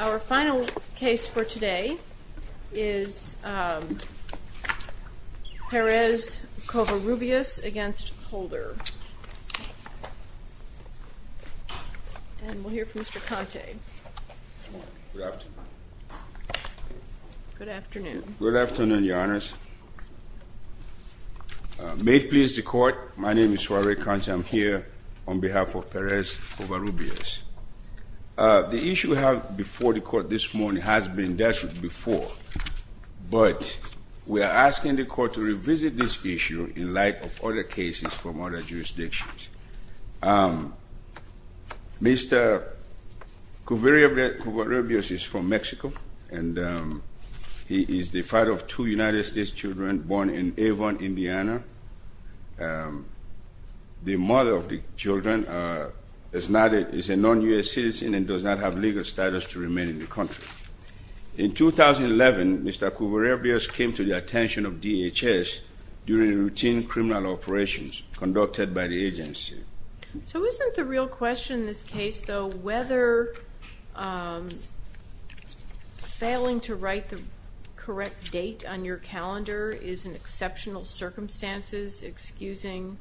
Our final case for today is Perez-Covarrubias v. Holder. And we'll hear from Mr. Conte. Good afternoon. Good afternoon. Good afternoon, Your Honors. May it please the Court, my name is Suare Conte. I'm here on behalf of Perez-Covarrubias. The issue we have before the Court this morning has been dealt with before, but we are asking the Court to revisit this issue in light of other cases from other jurisdictions. Mr. Covarrubias is from Mexico, and he is the father of two United States children born in Avon, Indiana. The mother of the children is a non-U.S. citizen and does not have legal status to remain in the country. In 2011, Mr. Covarrubias came to the attention of DHS during routine criminal operations conducted by the agency. So isn't the real question in this case, though, whether failing to write the correct date on your calendar is an exceptional circumstance, excusing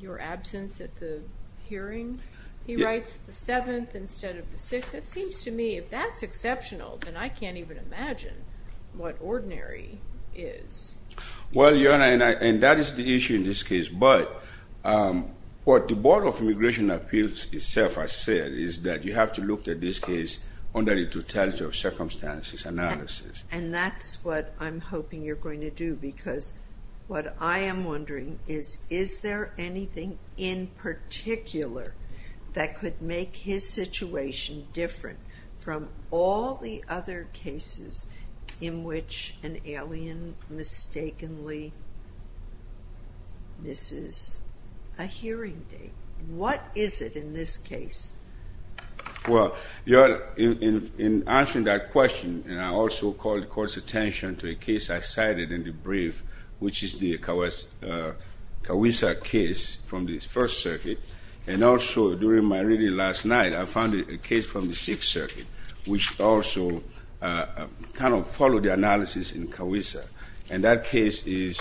your absence at the hearing? He writes the 7th instead of the 6th. It seems to me, if that's exceptional, then I can't even imagine what ordinary is. Well, Your Honor, and that is the issue in this case. But what the Board of Immigration Appeals itself has said is that you have to look at this case under the totality of circumstances analysis. And that's what I'm hoping you're going to do, because what I am wondering is, is there anything in particular that could make his situation different from all the other cases in which an alien mistakenly misses a hearing date? What is it in this case? Well, Your Honor, in answering that question, and I also called the Court's attention to a case I cited in the brief, which is the Kawisa case from the First Circuit. And also, during my reading last night, I found a case from the Sixth Circuit, which also kind of followed the analysis in Kawisa. And that case is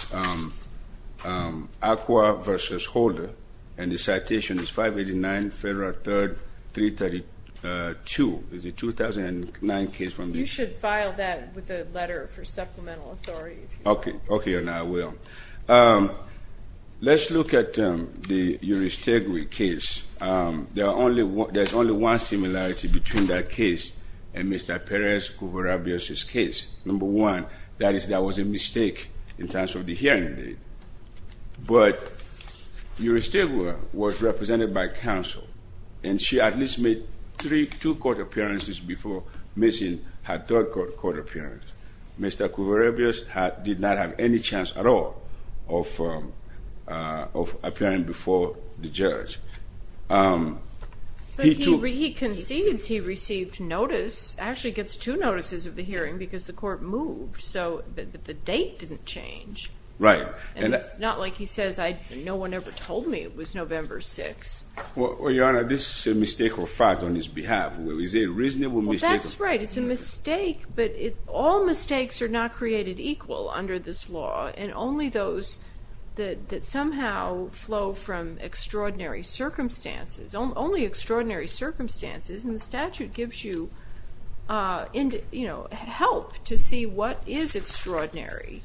Acqua v. Holder. And the citation is 589 Federal 3rd, 332. It's a 2009 case from this. You should file that with a letter for supplemental authority. Okay. Okay, Your Honor, I will. Let's look at the Uri Stegui case. There's only one similarity between that case and Mr. Perez-Cuvarabias' case. Number one, that is, there was a mistake in terms of the hearing date. But Uri Stegui was represented by counsel, and she at least made three, two court appearances before missing her third court appearance. Mr. Cuvarabias did not have any chance at all of appearing before the judge. But he concedes he received notice, actually gets two notices of the hearing, because the court moved. But the date didn't change. Right. And it's not like he says, no one ever told me it was November 6th. Well, Your Honor, this is a mistake or fact on his behalf. Is it a reasonable mistake? Well, that's right. It's a mistake, but all mistakes are not created equal under this law, and only those that somehow flow from extraordinary circumstances, only extraordinary circumstances, and the statute gives you, you know, help to see what is extraordinary.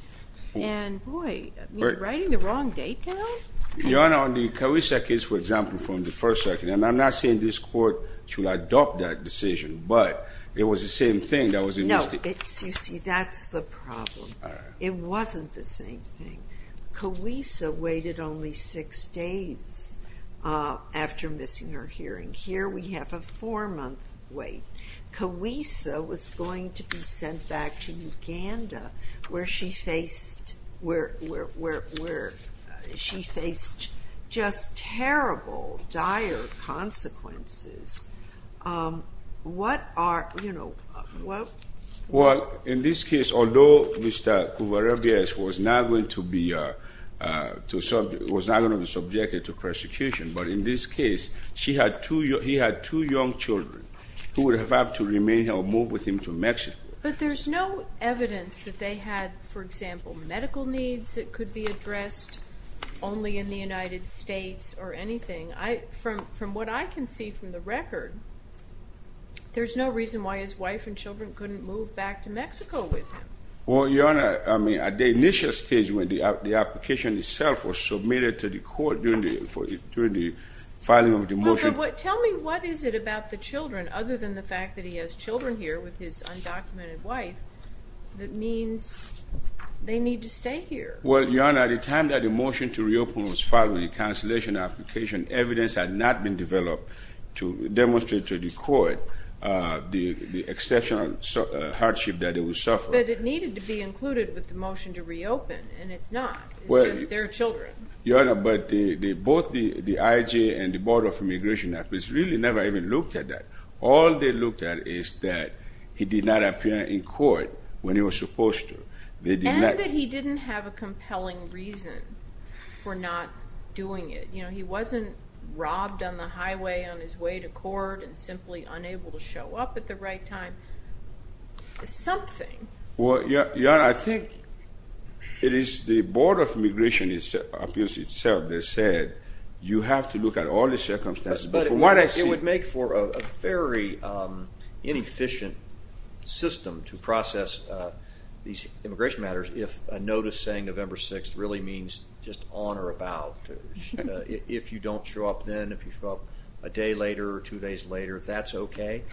And, boy, are you writing the wrong date down? Your Honor, on the Carissa case, for example, from the first circuit, and I'm not saying this court should adopt that decision, but it was the same thing that was admitted. No, you see, that's the problem. It wasn't the same thing. Carissa waited only six days after missing her hearing. Here we have a four-month wait. Carissa was going to be sent back to Uganda, where she faced just terrible, dire consequences. What are, you know, what? Well, in this case, although Mr. Cuvarrubias was not going to be subjected to persecution, but in this case, he had two young children who would have had to remain or move with him to Mexico. But there's no evidence that they had, for example, medical needs that could be addressed only in the United States or anything. From what I can see from the record, there's no reason why his wife and children couldn't move back to Mexico with him. Well, Your Honor, I mean, at the initial stage when the application itself was submitted to the court during the filing of the motion. Well, tell me, what is it about the children, other than the fact that he has children here with his undocumented wife, that means they need to stay here? Well, Your Honor, at the time that the motion to reopen was filed with the cancellation application, evidence had not been developed to demonstrate to the court the exceptional hardship that they would suffer. But it needed to be included with the motion to reopen, and it's not. It's just their children. Your Honor, but both the IJ and the Board of Immigration have really never even looked at that. All they looked at is that he did not appear in court when he was supposed to. And that he didn't have a compelling reason for not doing it. You know, he wasn't robbed on the highway on his way to court and simply unable to show up at the right time. It's something. Well, Your Honor, I think it is the Board of Immigration itself that said you have to look at all the circumstances. Yes, but it would make for a very inefficient system to process these immigration matters if a notice saying November 6th really means just on or about. If you don't show up then, if you show up a day later or two days later, that's okay.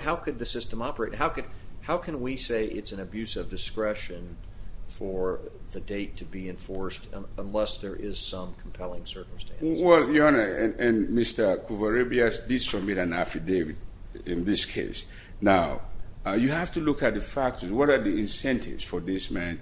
How could the system operate? How can we say it's an abuse of discretion for the date to be enforced unless there is some compelling circumstance? Well, Your Honor, and Mr. Kouvarebias did submit an affidavit in this case. Now, you have to look at the factors. What are the incentives for this man?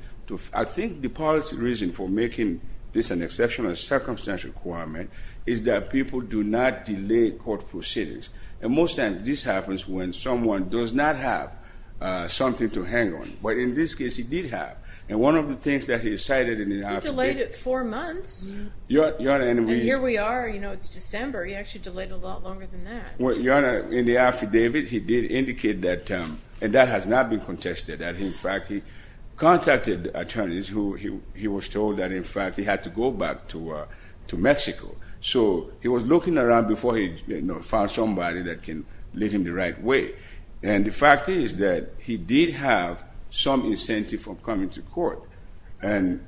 I think the policy reason for making this an exceptional circumstance requirement is that people do not delay court proceedings. And most times this happens when someone does not have something to hang on. But in this case, he did have. And one of the things that he cited in the affidavit... He delayed it four months. And here we are, you know, it's December. He actually delayed it a lot longer than that. Well, Your Honor, in the affidavit he did indicate that, and that has not been contested, that in fact he contacted attorneys who he was told that in fact he had to go back to Mexico. So he was looking around before he found somebody that can lead him the right way. And the fact is that he did have some incentive for coming to court. And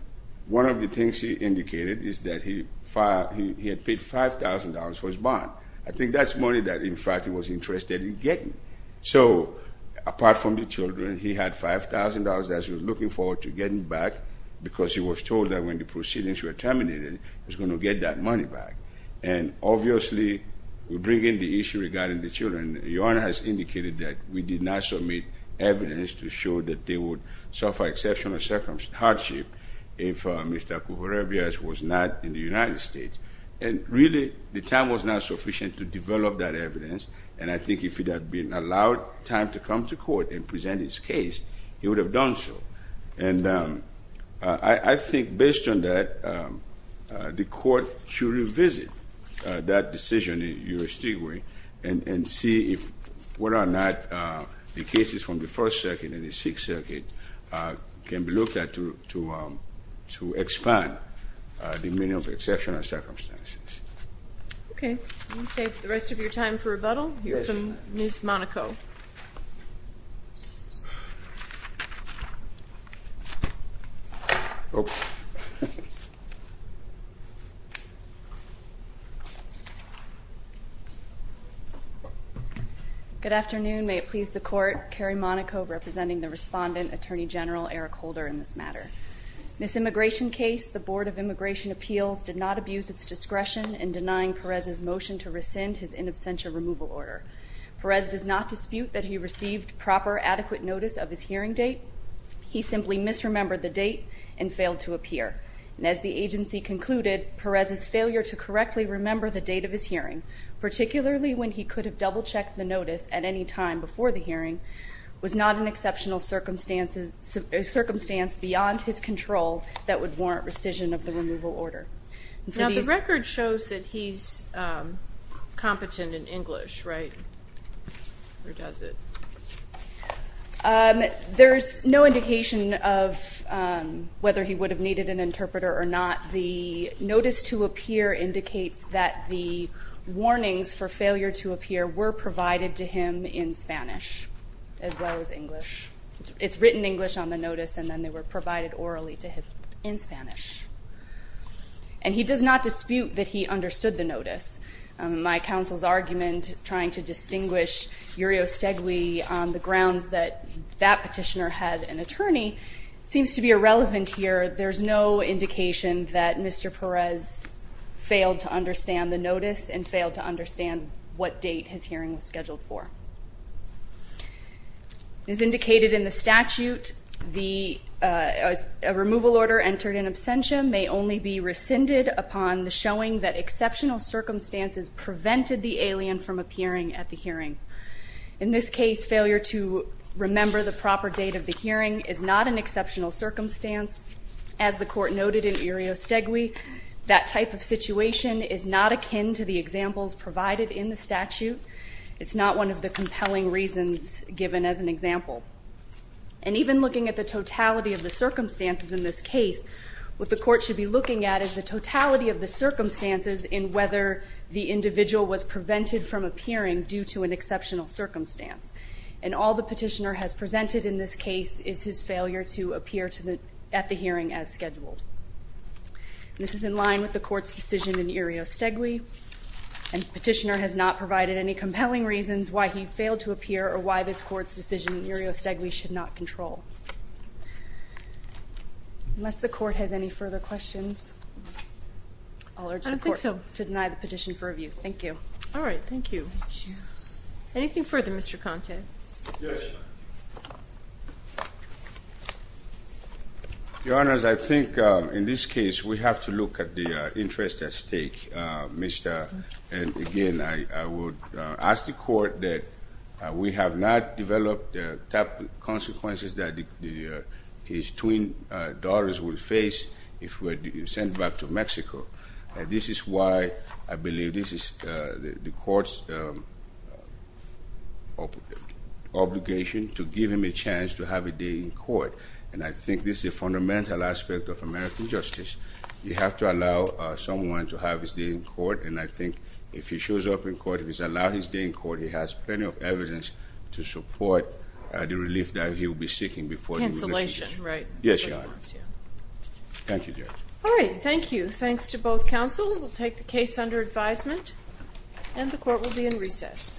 one of the things he indicated is that he had paid $5,000 for his bond. I think that's money that in fact he was interested in getting. So apart from the children, he had $5,000 that he was looking forward to getting back because he was told that when the proceedings were terminated, he was going to get that money back. And obviously, we bring in the issue regarding the children. Your Honor has indicated that we did not submit evidence to show that they would suffer exceptional hardship if Mr. Kouhourebias was not in the United States. And really, the time was not sufficient to develop that evidence. And I think if he had been allowed time to come to court and present his case, he would have done so. And I think based on that, the court should revisit that decision in your state way and see whether or not the cases from the First Circuit and the Sixth Circuit can be looked at to expand the meaning of exceptional circumstances. Okay. I'm going to take the rest of your time for rebuttal. We'll hear from Ms. Monaco. Good afternoon. May it please the Court. Carrie Monaco representing the Respondent Attorney General Eric Holder in this matter. In this immigration case, the Board of Immigration Appeals did not abuse its discretion in denying Perez's motion to rescind his in absentia removal order. Perez does not dispute that he received proper adequate notice of his hearing date. He simply misremembered the date and failed to appear. And as the agency concluded, Perez's failure to correctly remember the date of his hearing, particularly when he could have double-checked the notice at any time before the hearing, was not an exceptional circumstance beyond his control that would warrant rescission of the removal order. Now, the record shows that he's competent in English, right? Or does it? There's no indication of whether he would have needed an interpreter or not. The notice to appear indicates that the warnings for failure to appear were provided to him in Spanish as well as English. It's written English on the notice, and then they were provided orally to him in Spanish. And he does not dispute that he understood the notice. My counsel's argument trying to distinguish Uriostegui on the grounds that that petitioner had an attorney seems to be irrelevant here. There's no indication that Mr. Perez failed to understand the notice and failed to understand what date his hearing was scheduled for. As indicated in the statute, a removal order entered in absentia may only be rescinded upon the showing that exceptional circumstances prevented the alien from appearing at the hearing. In this case, failure to remember the proper date of the hearing is not an exceptional circumstance. As the court noted in Uriostegui, that type of situation is not akin to the examples provided in the statute. It's not one of the compelling reasons given as an example. And even looking at the totality of the circumstances in this case, what the court should be looking at is the totality of the circumstances in whether the individual was prevented from appearing due to an exceptional circumstance. And all the petitioner has presented in this case is his failure to appear at the hearing as scheduled. This is in line with the court's decision in Uriostegui. And the petitioner has not provided any compelling reasons why he failed to appear or why this court's decision in Uriostegui should not control. Unless the court has any further questions, I'll urge the court to deny the petition for review. Thank you. All right, thank you. Anything further, Mr. Conte? Yes. Your Honors, I think in this case we have to look at the interest at stake. And again, I would ask the court that we have not developed the type of consequences that his twin daughters would face if they were sent back to Mexico. This is why I believe this is the court's obligation to give him a chance to have a day in court. And I think this is a fundamental aspect of American justice. You have to allow someone to have his day in court. And I think if he shows up in court, if he's allowed his day in court, he has plenty of evidence to support the relief that he will be seeking before he will receive it. Cancellation, right? Yes, Your Honor. Thank you, Judge. All right, thank you. Thanks to both counsel. We'll take the case under advisement, and the court will be in recess. Thank you.